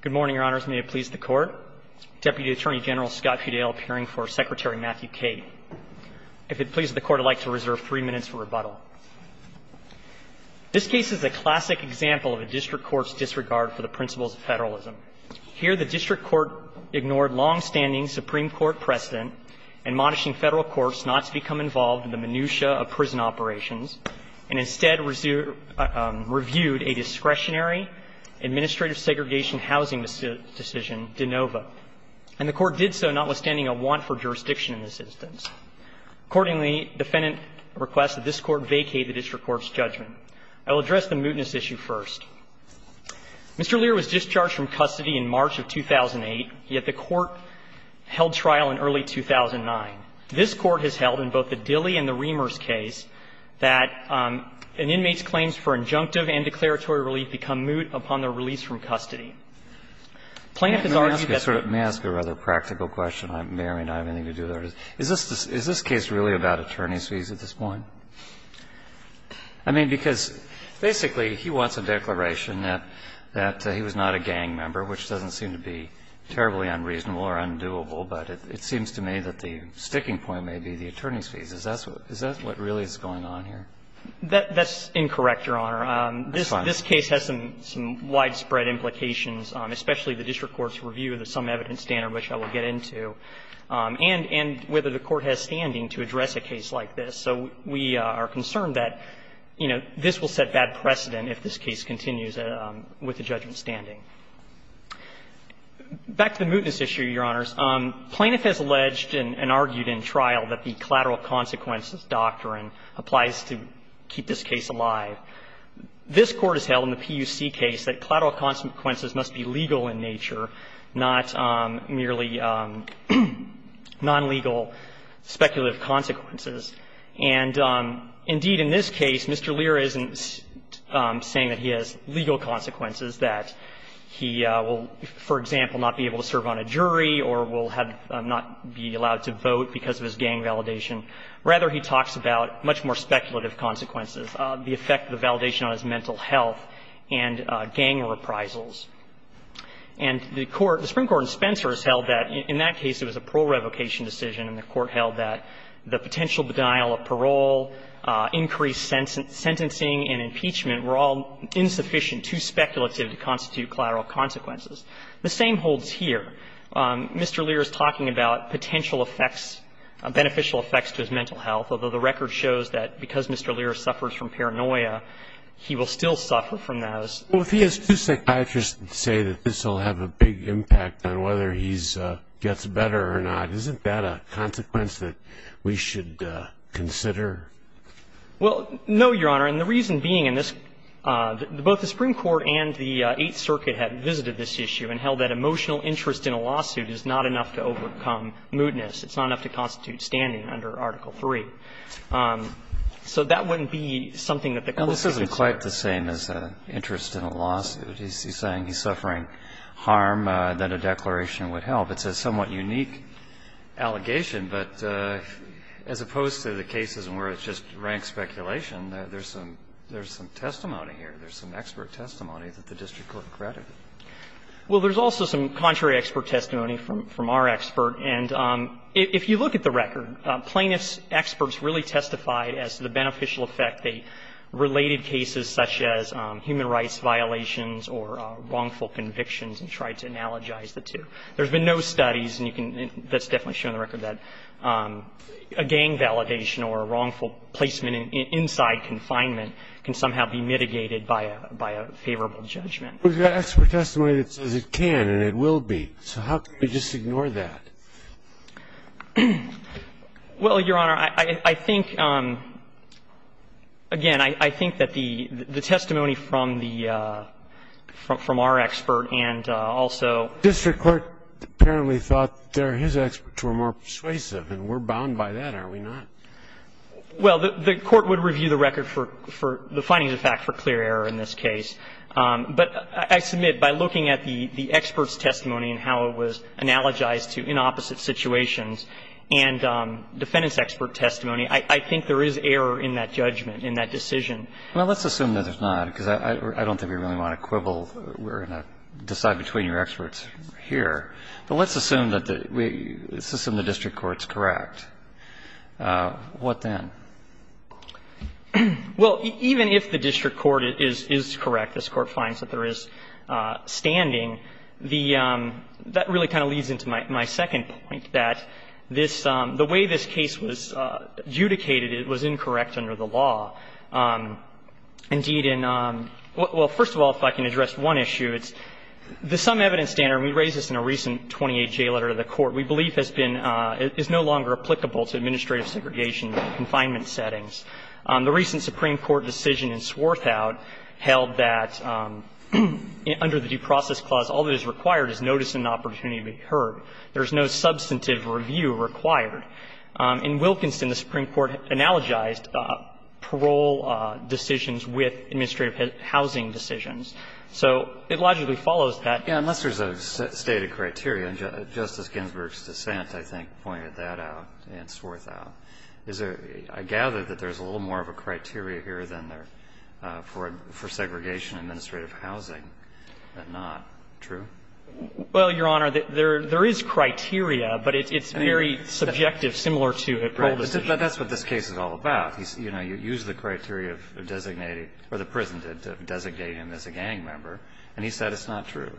Good morning, Your Honors, and may it please the Court. Deputy Attorney General Scott Fudale appearing for Secretary Matthew Cate. If it pleases the Court, I'd like to reserve three minutes for rebuttal. This case is a classic example of a district court's disregard for the principles of federalism. Here, the district court ignored longstanding Supreme Court precedent in monitoring federal courts not to become involved in the minutia of prison operations, and instead reviewed a discretionary administrative segregation housing decision, de novo. And the Court did so notwithstanding a want for jurisdiction in this instance. Accordingly, defendant requests that this Court vacate the district court's judgment. I will address the mootness issue first. Mr. Lira was discharged from custody in March of 2008, yet the Court held trial in early 2009. This Court has held in both the Dilley and the Reimers case that an inmate's claims for injunctive and declaratory relief become moot upon their release from custody. Plaintiff has argued that the ---- May I ask a rather practical question? I may or may not have anything to do with it. Is this case really about attorney's fees at this point? I mean, because basically he wants a declaration that he was not a gang member, which doesn't seem to be terribly unreasonable or undoable, but it seems to me that the sticking point may be the attorney's fees. Is that what really is going on here? That's incorrect, Your Honor. That's fine. This case has some widespread implications, especially the district court's review of the sum evidence standard, which I will get into, and whether the Court has standing to address a case like this. So we are concerned that, you know, this will set bad precedent if this case continues with the judgment standing. Back to the mootness issue, Your Honors. Plaintiff has alleged and argued in trial that the collateral consequences doctrine applies to keep this case alive. This Court has held in the PUC case that collateral consequences must be legal in nature, not merely non-legal speculative consequences. And indeed, in this case, Mr. Lear isn't saying that he has legal consequences, that he will, for example, not be able to serve on a jury or will have not be allowed to vote because of his gang validation. Rather, he talks about much more speculative consequences, the effect of the validation on his mental health and gang reprisals. And the Court, the Supreme Court in Spencer has held that in that case it was a parole revocation decision, and the Court held that the potential denial of parole, increased sentencing and impeachment were all insufficient, too speculative to constitute collateral consequences. The same holds here. Mr. Lear is talking about potential effects, beneficial effects to his mental health, although the record shows that because Mr. Lear suffers from paranoia, he will still suffer from those. Well, if he has two psychiatrists say that this will have a big impact on whether he gets better or not, isn't that a consequence that we should consider? Well, no, Your Honor. And the reason being in this, both the Supreme Court and the Eighth Circuit have visited this issue and held that emotional interest in a lawsuit is not enough to overcome moodness. It's not enough to constitute standing under Article III. So that wouldn't be something that the Court would consider. And this isn't quite the same as interest in a lawsuit. He's saying he's suffering harm, that a declaration would help. It's a somewhat unique allegation, but as opposed to the cases where it's just rank speculation, there's some testimony here. There's some expert testimony that the district court credited. Well, there's also some contrary expert testimony from our expert. And if you look at the record, plaintiffs' experts really testified as to the beneficial effect they related cases such as human rights violations or wrongful convictions and tried to analogize the two. There's been no studies that's definitely shown in the record that a gang validation or a wrongful placement inside confinement can somehow be mitigated by a favorable judgment. But there's expert testimony that says it can and it will be. So how could we just ignore that? Well, Your Honor, I think, again, I think that the testimony from the – from our expert and also the district court. The district court apparently thought that their – his experts were more persuasive, and we're bound by that, are we not? Well, the court would review the record for the findings of fact for clear error in this case. But I submit by looking at the expert's testimony and how it was analogized to in opposite situations and defendant's expert testimony, I think there is error in that judgment, in that decision. Well, let's assume that there's not, because I don't think we really want to quibble We're going to decide between your experts here. But let's assume that the – let's assume the district court's correct. What then? Well, even if the district court is correct, this Court finds that there is standing, the – that really kind of leads into my second point, that this – the way this case was adjudicated, it was incorrect under the law. Indeed, in – well, first of all, if I can address one issue, it's the sum evidence standard, and we raised this in a recent 28-J letter to the Court, we believe has been – is no longer applicable to administrative segregation confinement settings. The recent Supreme Court decision in Swarthout held that under the due process clause, all that is required is notice and opportunity to be heard. There is no substantive review required. In Wilkinson, the Supreme Court analogized parole decisions with administrative housing decisions. So it logically follows that. Yeah, unless there's a stated criteria, and Justice Ginsburg's dissent, I think, pointed that out in Swarthout. Is there – I gather that there's a little more of a criteria here than there for segregation in administrative housing, but not. True? Well, Your Honor, there is criteria, but it's very subjective, similar to a parole decision. But that's what this case is all about. You know, you use the criteria of designating – or the prison did to designate him as a gang member, and he said it's not true.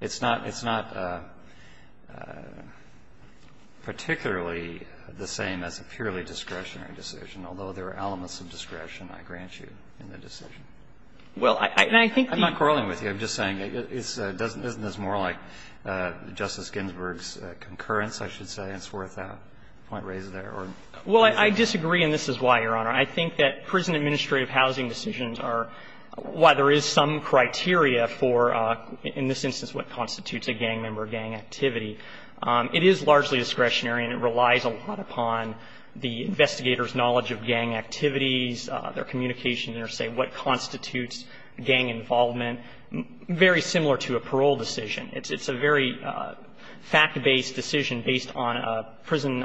It's not – it's not particularly the same as a purely discretionary decision, although there are elements of discretion, I grant you, in the decision. Well, I think the – I'm not quarreling with you. I'm just saying it's – isn't this more like Justice Ginsburg's concurrence, I should say, in Swarthout? Point raised there, or? Well, I disagree, and this is why, Your Honor. I think that prison administrative housing decisions are – while there is some criteria for, in this instance, what constitutes a gang member or gang activity, it is largely discretionary, and it relies a lot upon the investigator's knowledge of gang activities, their communication, and their say, what constitutes gang involvement. And it's very similar to a parole decision. It's a very fact-based decision based on a prison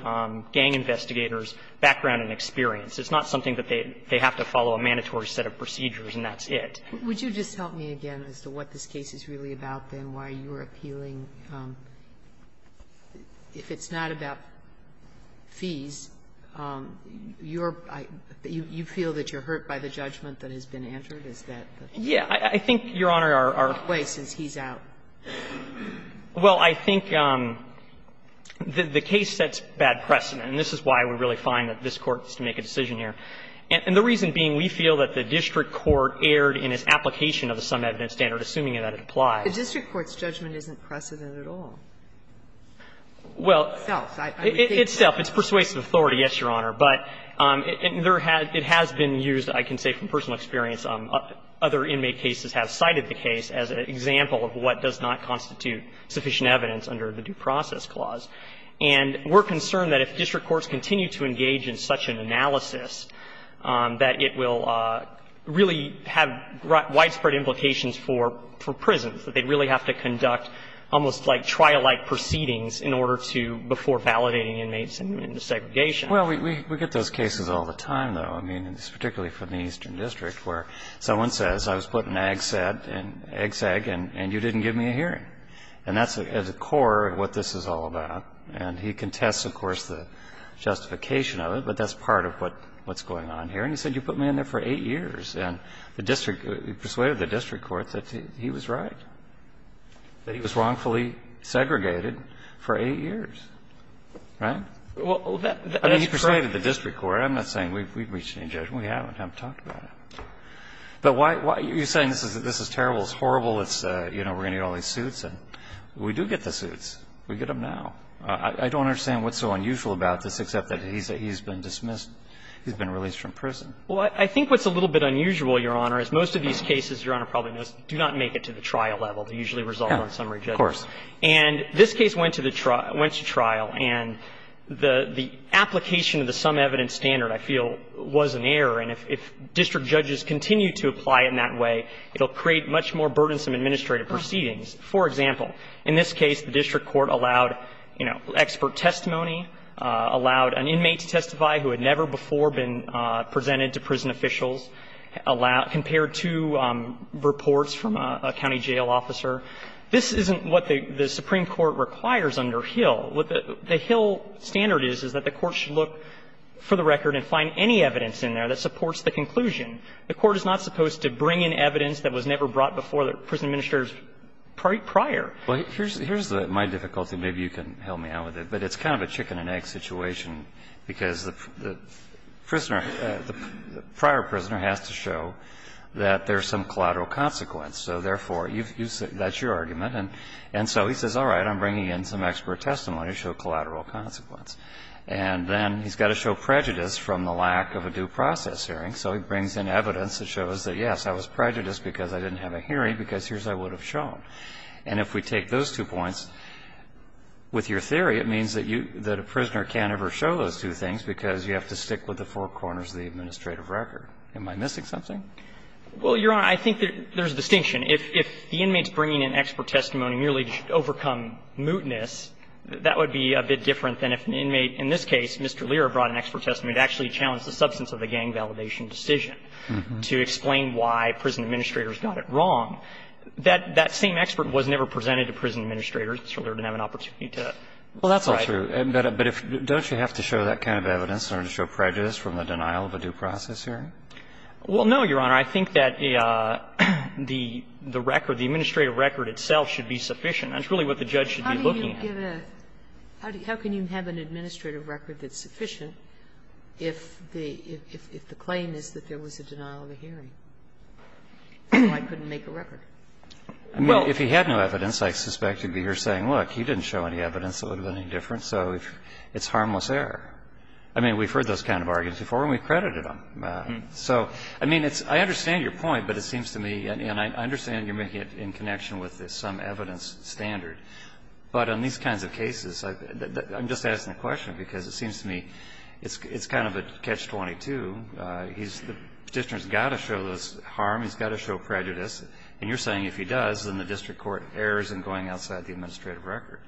gang investigator's background and experience. It's not something that they have to follow a mandatory set of procedures, and that's it. Would you just tell me again as to what this case is really about, then, why you're appealing? If it's not about fees, you're – you feel that you're hurt by the judgment that has been answered? Is that the point? Yeah. I think, Your Honor, our – What way, since he's out? Well, I think the case sets bad precedent, and this is why we really find that this Court has to make a decision here. And the reason being, we feel that the district court erred in its application of the sum evidence standard, assuming that it applies. The district court's judgment isn't precedent at all. Well, it's self. It's persuasive authority, yes, Your Honor. But there has – it has been used, I can say from personal experience, on other cases where inmate cases have cited the case as an example of what does not constitute sufficient evidence under the Due Process Clause. And we're concerned that if district courts continue to engage in such an analysis, that it will really have widespread implications for prisons, that they'd really have to conduct almost like trial-like proceedings in order to – before validating inmates into segregation. Well, we get those cases all the time, though. I mean, it's particularly for the Eastern District, where someone says, I was put in AG-SED and AG-SEG, and you didn't give me a hearing. And that's at the core of what this is all about. And he contests, of course, the justification of it, but that's part of what's going on here. And he said, you put me in there for 8 years. And the district – he persuaded the district court that he was right, that he was wrongfully segregated for 8 years. Right? Well, that's correct. I mean, he persuaded the district court. I'm not saying we've reached any judgment. We haven't. I haven't talked about it. But why – you're saying this is terrible, it's horrible, it's, you know, we're going to get all these suits. And we do get the suits. We get them now. I don't understand what's so unusual about this, except that he's been dismissed – he's been released from prison. Well, I think what's a little bit unusual, Your Honor, is most of these cases, Your Honor probably knows, do not make it to the trial level. They usually resolve on summary judgment. Of course. And this case went to the trial – went to trial. And the application of the sum evidence standard, I feel, was an error. And if district judges continue to apply it in that way, it will create much more burdensome administrative proceedings. For example, in this case, the district court allowed, you know, expert testimony, allowed an inmate to testify who had never before been presented to prison officials, compared to reports from a county jail officer. This isn't what the Supreme Court requires under Hill. What the Hill standard is, is that the court should look for the record and find any evidence in there that supports the conclusion. The court is not supposed to bring in evidence that was never brought before the prison administrators prior. Well, here's the – my difficulty, and maybe you can help me out with it, but it's kind of a chicken-and-egg situation, because the prisoner, the prior prisoner has to show that there's some collateral consequence. So therefore, you've – that's your argument. And so he says, all right, I'm bringing in some expert testimony to show collateral consequence. And then he's got to show prejudice from the lack of a due process hearing. So he brings in evidence that shows that, yes, I was prejudiced because I didn't have a hearing, because here's what I would have shown. And if we take those two points, with your theory, it means that you – that a prisoner can't ever show those two things because you have to stick with the four corners of the administrative record. Am I missing something? Well, Your Honor, I think there's a distinction. If the inmate's bringing in expert testimony merely to overcome mootness, that would be a bit different than if an inmate, in this case, Mr. Lear, brought an expert testimony to actually challenge the substance of a gang validation decision to explain why prison administrators got it wrong. That same expert was never presented to prison administrators, so they didn't have an opportunity to decide. Well, that's all true. But if – don't you have to show that kind of evidence in order to show prejudice from the denial of a due process hearing? Well, no, Your Honor. I think that the record, the administrative record itself should be sufficient. That's really what the judge should be looking at. How do you give a – how can you have an administrative record that's sufficient if the claim is that there was a denial of a hearing, so I couldn't make a record? Well, if he had no evidence, I suspect he'd be here saying, look, he didn't show any evidence that would have been any different, so it's harmless error. I mean, we've heard those kind of arguments before and we've credited him. So, I mean, it's – I understand your point, but it seems to me, and I understand you're making it in connection with some evidence standard. But on these kinds of cases, I'm just asking the question because it seems to me it's kind of a catch-22. He's – the petitioner's got to show this harm, he's got to show prejudice. And you're saying if he does, then the district court errs in going outside the administrative record.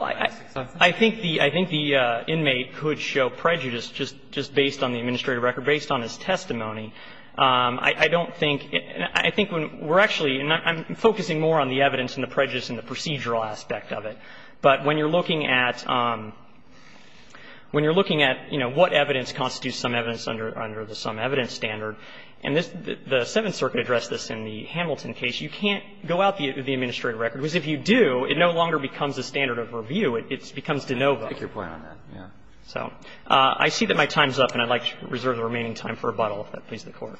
I think the – I think the inmate could show prejudice just based on the administrative record, based on his testimony. I don't think – I think when we're actually – and I'm focusing more on the evidence and the prejudice and the procedural aspect of it. But when you're looking at – when you're looking at, you know, what evidence constitutes some evidence under the some evidence standard, and the Seventh Circuit addressed this in the Hamilton case, you can't go out the administrative record, because if you do, it no longer becomes a standard of review. It becomes de novo. I take your point on that, yes. So I see that my time's up, and I'd like to reserve the remaining time for rebuttal, if that pleases the Court.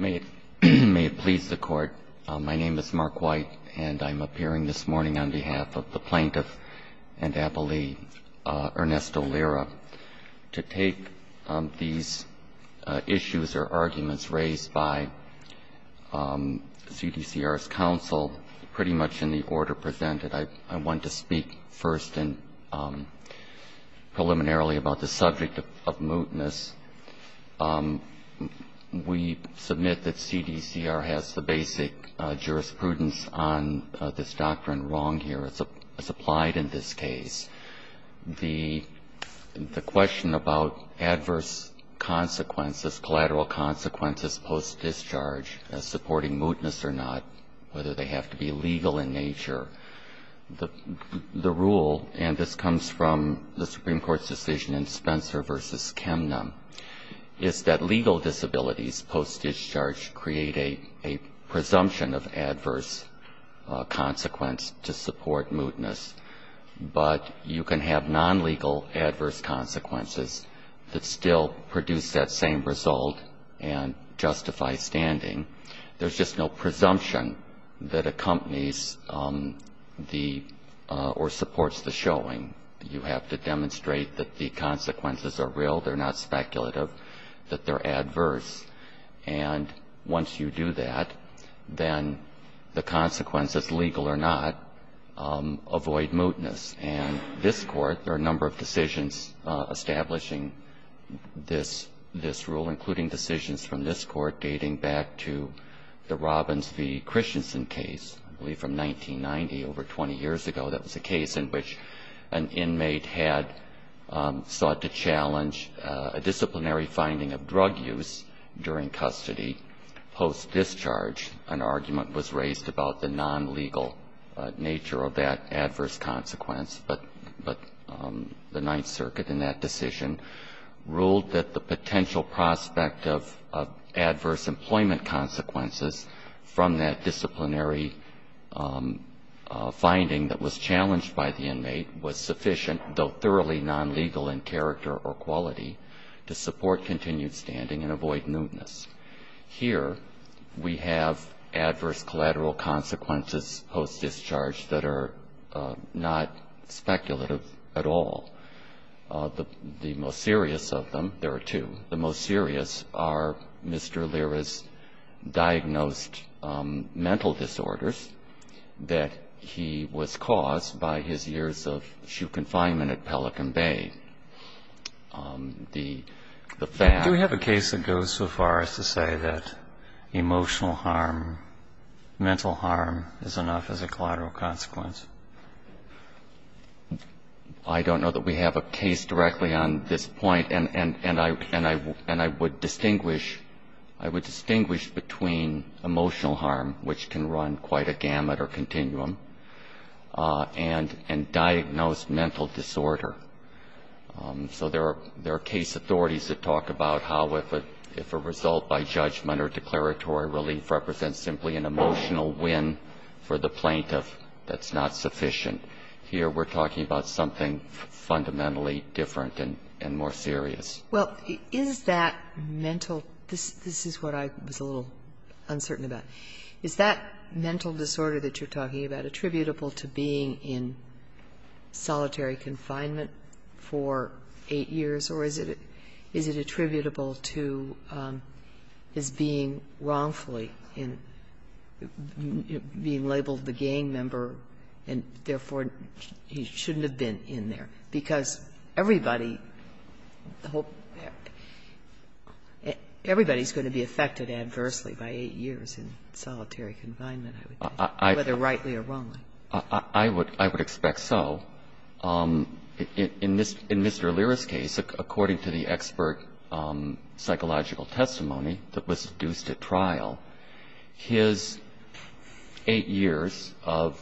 May it please the Court. My name is Mark White, and I'm appearing this morning on behalf of the plaintiff and ability, Ernesto Lira, to take these issues or arguments raised by CDCR's counsel, pretty much in the order presented. I want to speak first and preliminarily about the subject of mootness. We submit that CDCR has the basic jurisprudence on this doctrine wrong here. It's applied in this case. The question about adverse consequences, collateral consequences post-discharge, as supporting mootness or not, whether they have to be legal in nature, the rule – and this comes from the Supreme Court's decision in Spencer v. Kemnum – is that legal disabilities post-discharge create a presumption of adverse consequence to support mootness, but you can have non-legal adverse consequences that still produce that same result and justify standing. There's just no presumption that accompanies the – or supports the showing. You have to demonstrate that the consequences are real. They're not speculative, that they're adverse. And once you do that, then the consequences, legal or not, avoid mootness. And this Court, there are a number of decisions establishing this rule, including decisions from this Court dating back to the Robbins v. Christensen case, I believe from 1990, over 20 years ago. That was a case in which an inmate had sought to challenge a disciplinary finding of drug use during custody. Post-discharge, an argument was raised about the non-legal nature of that adverse consequence, but the Ninth Circuit in that decision ruled that the potential prospect of adverse employment consequences from that disciplinary finding that was challenged by the inmate was sufficient, though thoroughly non-legal in character or quality, to support continued standing and avoid mootness. Here we have adverse collateral consequences post-discharge that are not speculative at all. The most serious of them – there are two – the most serious are Mr. Lira's diagnosed mental disorders that he was caused by his years of confinement at Pelican Bay. The fact... Do we have a case that goes so far as to say that emotional harm, mental harm is enough as a collateral consequence? I don't know that we have a case directly on this point, and I would distinguish between emotional harm, which can run quite a gamut or continuum, and diagnosed mental disorder. So there are case authorities that talk about how if a result by judgment or declaratory relief represents simply an emotional win for the plaintiff, that's not sufficient. Here we're talking about something fundamentally different and more serious. Well, is that mental – this is what I was a little uncertain about – is that mental disorder that you're talking about attributable to being in solitary confinement for eight years, or is it attributable to his being wrongfully – being labeled the gang member and therefore he shouldn't have been in there? Because everybody's going to be affected adversely by eight years in solitary confinement, I would think, whether rightly or wrongly. I would expect so. In Mr. Allura's case, according to the expert psychological testimony that was deduced at trial, his eight years of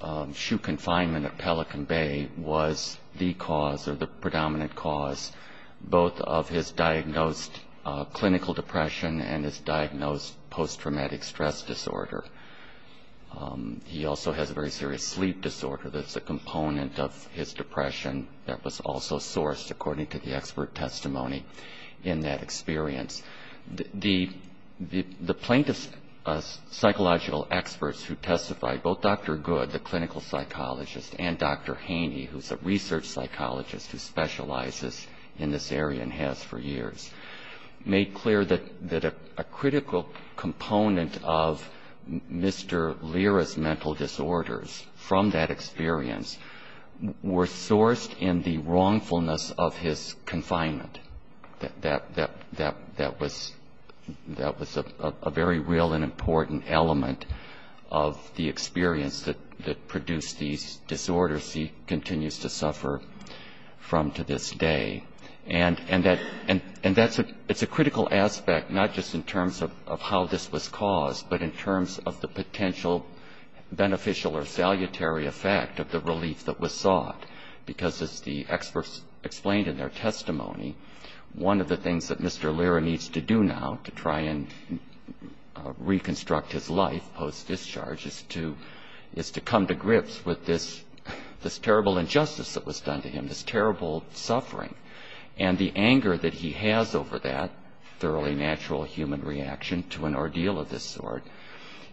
confinement at Pelican Bay was the cause both of his diagnosed clinical depression and his diagnosed post-traumatic stress disorder. He also has a very serious sleep disorder that's a component of his depression that was also sourced, according to the expert testimony in that experience. The plaintiff's psychological experts who testified, both Dr. Good, the clinical psychologist, and Dr. Lizes in this area, and has for years, made clear that a critical component of Mr. Allura's mental disorders from that experience were sourced in the wrongfulness of his confinement. That was a very real and important element of the experience that produced these disorders as he continues to suffer from to this day. And that's a critical aspect, not just in terms of how this was caused, but in terms of the potential beneficial or salutary effect of the relief that was sought. Because as the experts explained in their testimony, one of the things that Mr. Allura needs to do now to try and reconstruct his life post-discharge is to come to grips with this terrible injustice that was done to him, this terrible suffering. And the anger that he has over that, thoroughly natural human reaction to an ordeal of this sort,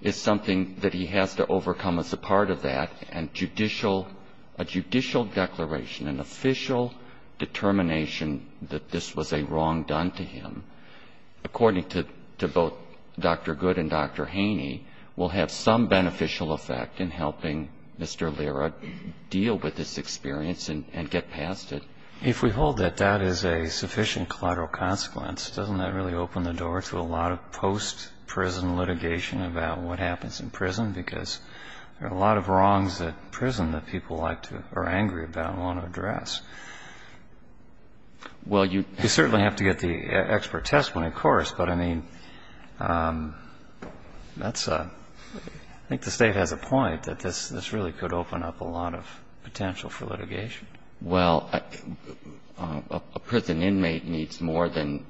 is something that he has to overcome as a part of that, and a judicial declaration, an official determination that this was a wrong done to him, according to both Dr. Good and Dr. Haney, will have some beneficial effect in helping Mr. Allura deal with this experience and get past it. If we hold that that is a sufficient collateral consequence, doesn't that really open the door to a lot of post-prison litigation about what happens in prison? Because there are a lot of wrongs at prison that people like to or are angry about and want to address. Well, you certainly have to get the expert testimony, of course, but, I mean, that's a, I think the State has a point that this really could open up a lot of potential for litigation. Well, a prison inmate needs more than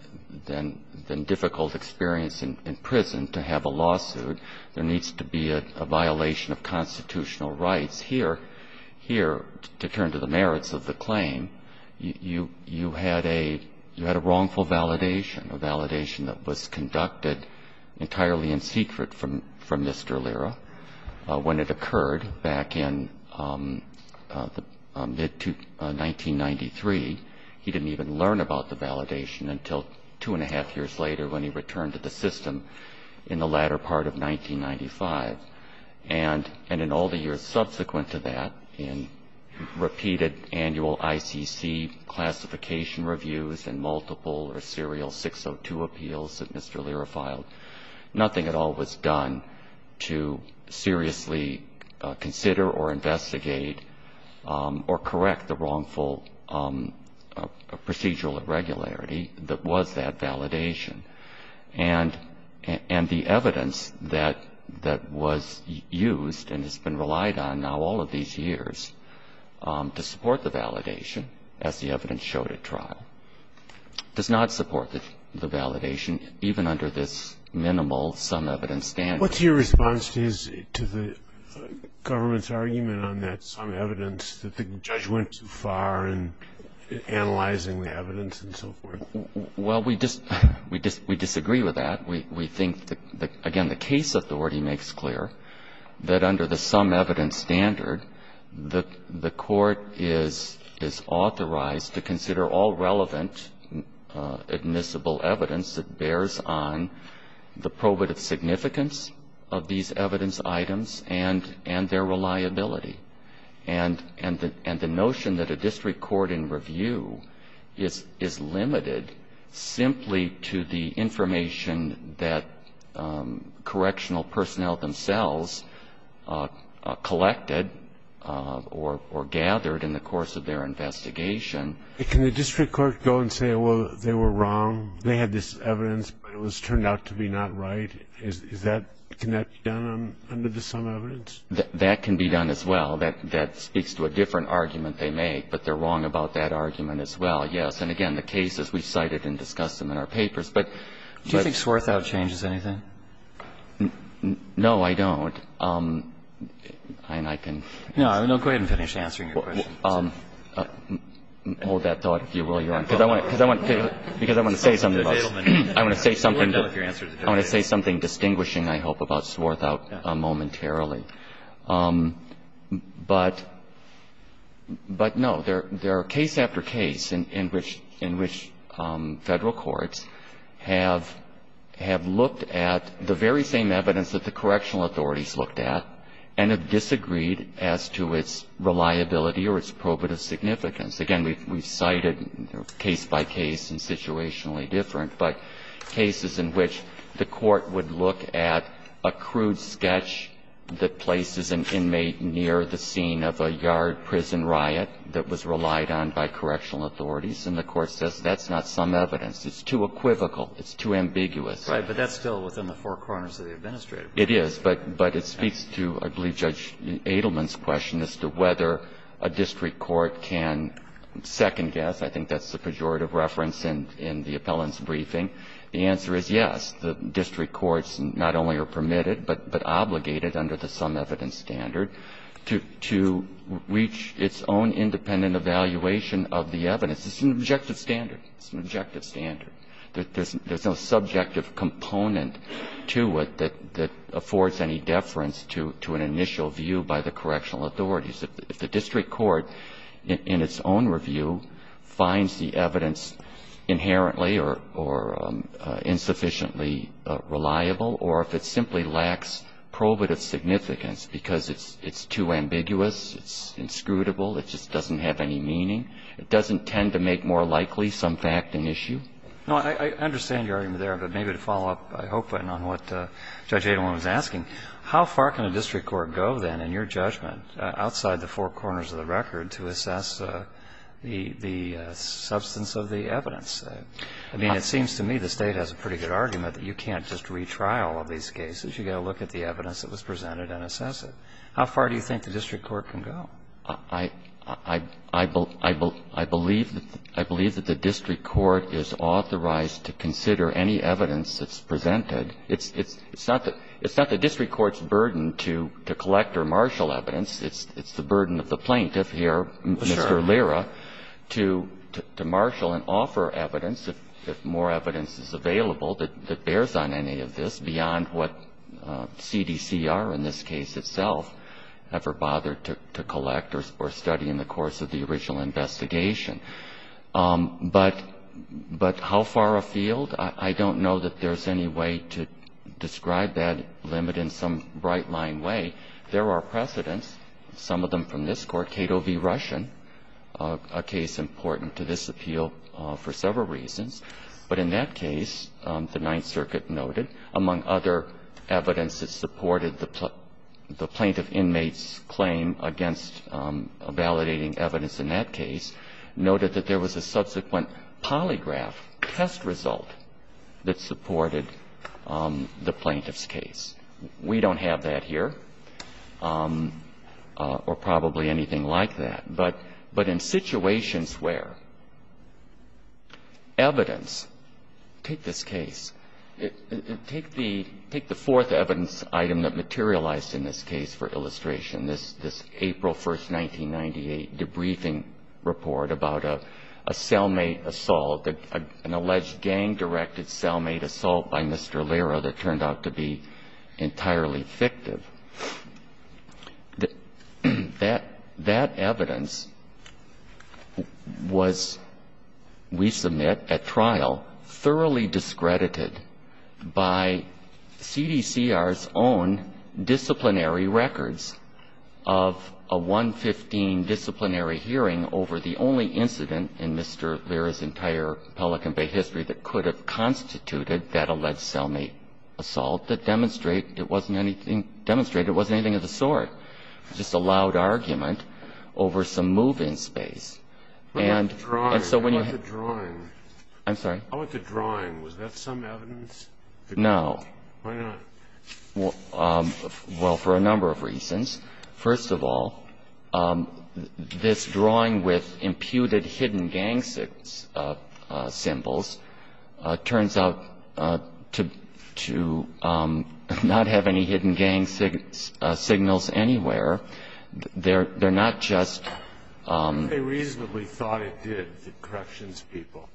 difficult experience in prison to have a lawsuit. There needs to be a violation of constitutional rights here, here, to turn to the merits of the system. I mean, if you look at the history of the system, you had a wrongful validation, a validation that was conducted entirely in secret from Mr. Allura. When it occurred back in 1993, he didn't even learn about the validation until two and a half years later when he returned to the system in the latter part of 1995. And in all the years subsequent to that, in the repeated annual ICC classification reviews and multiple or serial 602 appeals that Mr. Allura filed, nothing at all was done to seriously consider or investigate or correct the wrongful procedural irregularity that was that validation. And the evidence that was used and has been relied on now all of these years to support the validation as the evidence showed at trial does not support the validation even under this minimal sum evidence standard. What's your response to the government's argument on that sum evidence that the judge went too far in analyzing the evidence and so forth? Well, we disagree with that. We think that, again, the case authority makes clear that under the sum evidence standard, the court is authorized to consider all relevant admissible evidence that bears on the probative significance of these evidence items and their reliability. And the notion that a district court in review is limited simply to the information that is collected or gathered in the course of their investigation. But can the district court go and say, well, they were wrong, they had this evidence, but it was turned out to be not right? Can that be done under the sum evidence? That can be done as well. That speaks to a different argument they make, but they're wrong about that argument as well, yes. And, again, the cases, we've cited and discussed them in our papers. Do you think Swarthout changes anything? No, I don't. And I can answer. No, go ahead and finish answering your question. Hold that thought, if you will, Your Honor. Because I want to say something about it. I want to say something distinguishing, I hope, about Swarthout momentarily. But, no, there are case after case in which Federal courts have looked at the case and have disagreed as to its reliability or its probative significance. Again, we've cited case by case and situationally different, but cases in which the court would look at a crude sketch that places an inmate near the scene of a yard prison riot that was relied on by correctional authorities, and the court says that's not some evidence, it's too equivocal, it's too ambiguous. Right. But that's still within the four corners of the administrative. It is, but it speaks to, I believe, Judge Adelman's question as to whether a district court can second-guess. I think that's the pejorative reference in the appellant's briefing. The answer is yes. The district courts not only are permitted but obligated under the sum evidence standard to reach its own independent evaluation of the evidence. It's an objective standard. It's an objective standard. There's no subjective component to it that affords any deference to an initial view by the correctional authorities. If the district court in its own review finds the evidence inherently or insufficiently reliable, or if it simply lacks probative significance because it's too ambiguous, it's inscrutable, it just doesn't have any meaning, it doesn't tend to make more sense to the district court. I think that's the problem. Roberts. No, I understand your argument there. But maybe to follow up, I hope, on what Judge Adelman was asking, how far can a district court go, then, in your judgment, outside the four corners of the record to assess the substance of the evidence? I mean, it seems to me the State has a pretty good argument that you can't just retry all of these cases. You've got to look at the evidence that was presented and assess it. How far do you think the district court can go? I believe that the district court is authorized to consider any evidence that's presented. It's not the district court's burden to collect or marshal evidence. It's the burden of the plaintiff here, Mr. Lira, to marshal and offer evidence, if more evidence is available, that bears on any of this beyond what CDCR in this case itself ever bothered to collect or study in the course of the original investigation. But how far afield? I don't know that there's any way to describe that limit in some bright-line way. There are precedents, some of them from this court. Cato v. Russian, a case important to this appeal for several reasons. But in that case, the Ninth Circuit noted, among other evidence that supported the plaintiff inmate's claim against validating evidence in that case, noted that there was a subsequent polygraph test result that supported the plaintiff's case. We don't have that here or probably anything like that. But in situations where evidence, take this case, take the fourth evidence item that materialized in this case for illustration, this April 1, 1998, debriefing report about a cellmate assault, an alleged gang-directed cellmate assault by Mr. Lira that turned out to be entirely fictive. That evidence was, we submit at trial, thoroughly discredited by CDCR's own disciplinary records of a 115 disciplinary hearing over the only incident in Mr. Lira's entire Pelican Bay history that could have constituted that alleged cellmate assault that demonstrated it wasn't anything of the sort. Just a loud argument over some move-in space. And so when you have the drawing. I'm sorry. I want the drawing. Was that some evidence? No. Why not? Well, for a number of reasons. First of all, this drawing with imputed hidden gang-symbols turns out to be a very clear indication of the fact that there was a gang-directed gang-directed And so the fact that they didn't have any hidden gang signals anywhere, they're not just. They reasonably thought it did, the corrections people.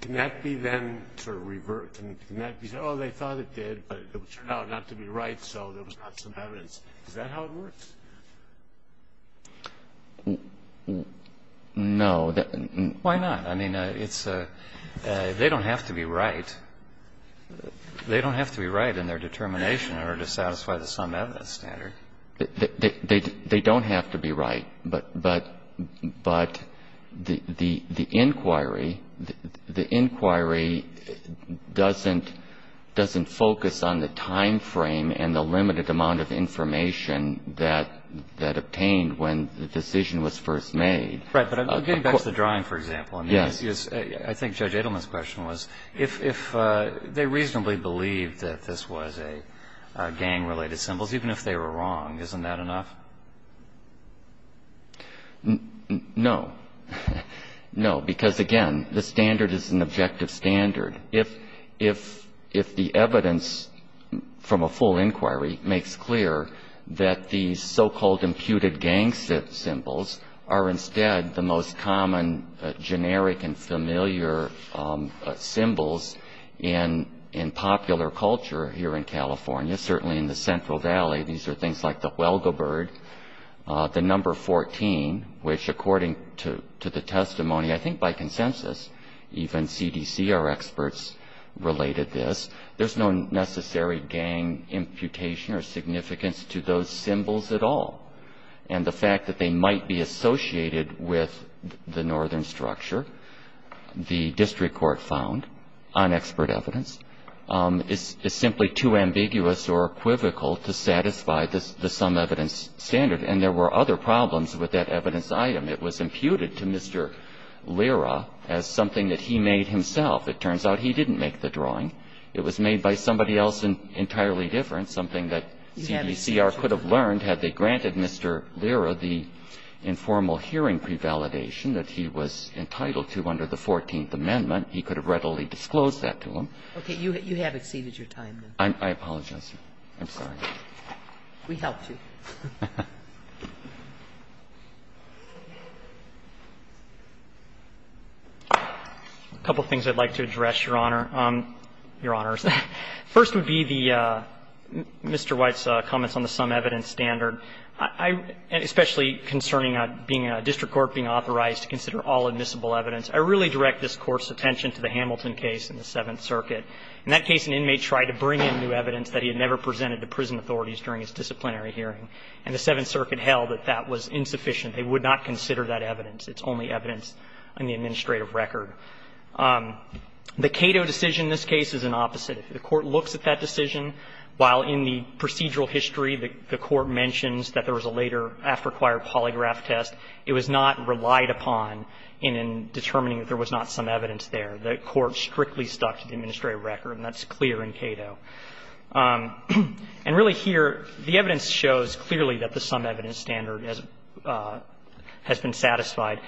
Can that be then sort of reversed? Can that be said, oh, they thought it did, but it turned out not to be right, so there was not some evidence. Is that how it works? No. Why not? I mean, they don't have to be right. They don't have to be right in their determination in order to satisfy the summed evidence standard. They don't have to be right, but the inquiry doesn't focus on the time frame and the information that obtained when the decision was first made. Right. But getting back to the drawing, for example. Yes. I think Judge Edelman's question was if they reasonably believed that this was a gang-related symbols, even if they were wrong, isn't that enough? No. No. Because, again, the standard is an objective standard. If the evidence from a full inquiry makes clear that these so-called imputed gang symbols are instead the most common generic and familiar symbols in popular culture here in California, certainly in the Central Valley, these are things like the Huelga bird, the number 14, which according to the testimony, I think by consensus, even CDC are experts in this. They're experts related to this. There's no necessary gang imputation or significance to those symbols at all. And the fact that they might be associated with the northern structure, the district court found, on expert evidence, is simply too ambiguous or equivocal to satisfy the summed evidence standard, and there were other problems with that evidence item. It was imputed to Mr. Lira as something that he made himself. It turns out he didn't make the drawing. It was made by somebody else entirely different, something that CDCR could have learned had they granted Mr. Lira the informal hearing prevalidation that he was entitled to under the 14th Amendment. He could have readily disclosed that to him. Okay. You have exceeded your time, then. I apologize. I'm sorry. We helped you. A couple of things I'd like to address, Your Honor. Your Honors. First would be the Mr. White's comments on the summed evidence standard, especially concerning being a district court, being authorized to consider all admissible evidence. I really direct this Court's attention to the Hamilton case in the Seventh Circuit. In that case, an inmate tried to bring in new evidence that he had never presented to prison authorities during his disciplinary hearing. And the Seventh Circuit held that that was insufficient. They would not consider that evidence. It's only evidence in the administrative record. The Cato decision in this case is an opposite. The Court looks at that decision, while in the procedural history the Court mentions that there was a later after-acquired polygraph test, it was not relied upon in determining that there was not some evidence there. The Court strictly stuck to the administrative record, and that's clear in Cato. And really here, the evidence shows clearly that the summed evidence standard has been satisfied.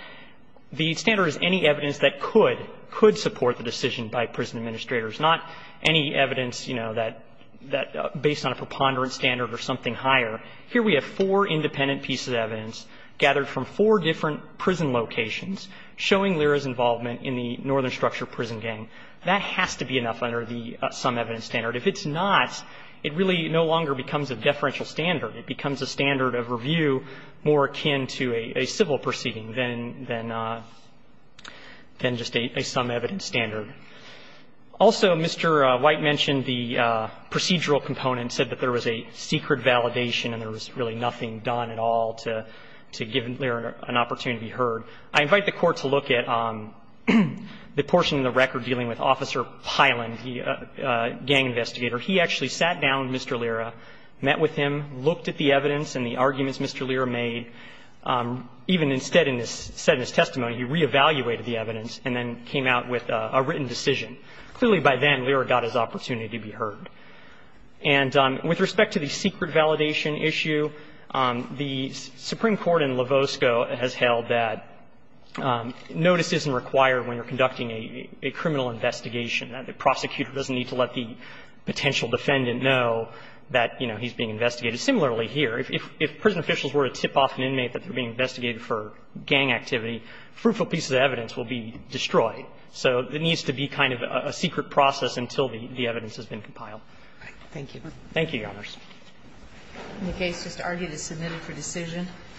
The standard is any evidence that could, could support the decision by prison administrators, not any evidence, you know, that based on a preponderant standard or something higher. Here we have four independent pieces of evidence gathered from four different prison locations showing Lira's involvement in the Northern Structure prison gang. That has to be enough under the summed evidence standard. If it's not, it really no longer becomes a deferential standard. It becomes a standard of review more akin to a civil proceeding than, than just a summed evidence standard. Also, Mr. White mentioned the procedural component, said that there was a secret validation and there was really nothing done at all to give Lira an opportunity to be heard. I invite the Court to look at the portion of the record dealing with Officer Piland, the gang investigator. He actually sat down with Mr. Lira, met with him, looked at the evidence and the arguments Mr. Lira made. Even instead in his testimony, he reevaluated the evidence and then came out with a written decision. Clearly, by then, Lira got his opportunity to be heard. And with respect to the secret validation issue, the Supreme Court in Lavosko has held that notice isn't required when you're conducting a criminal investigation. The prosecutor doesn't need to let the potential defendant know that, you know, he's being investigated. Similarly here, if prison officials were to tip off an inmate that they're being investigated for gang activity, fruitful pieces of evidence will be destroyed. So it needs to be kind of a secret process until the evidence has been compiled. Thank you. Thank you, Your Honors. The case just argued is submitted for decision.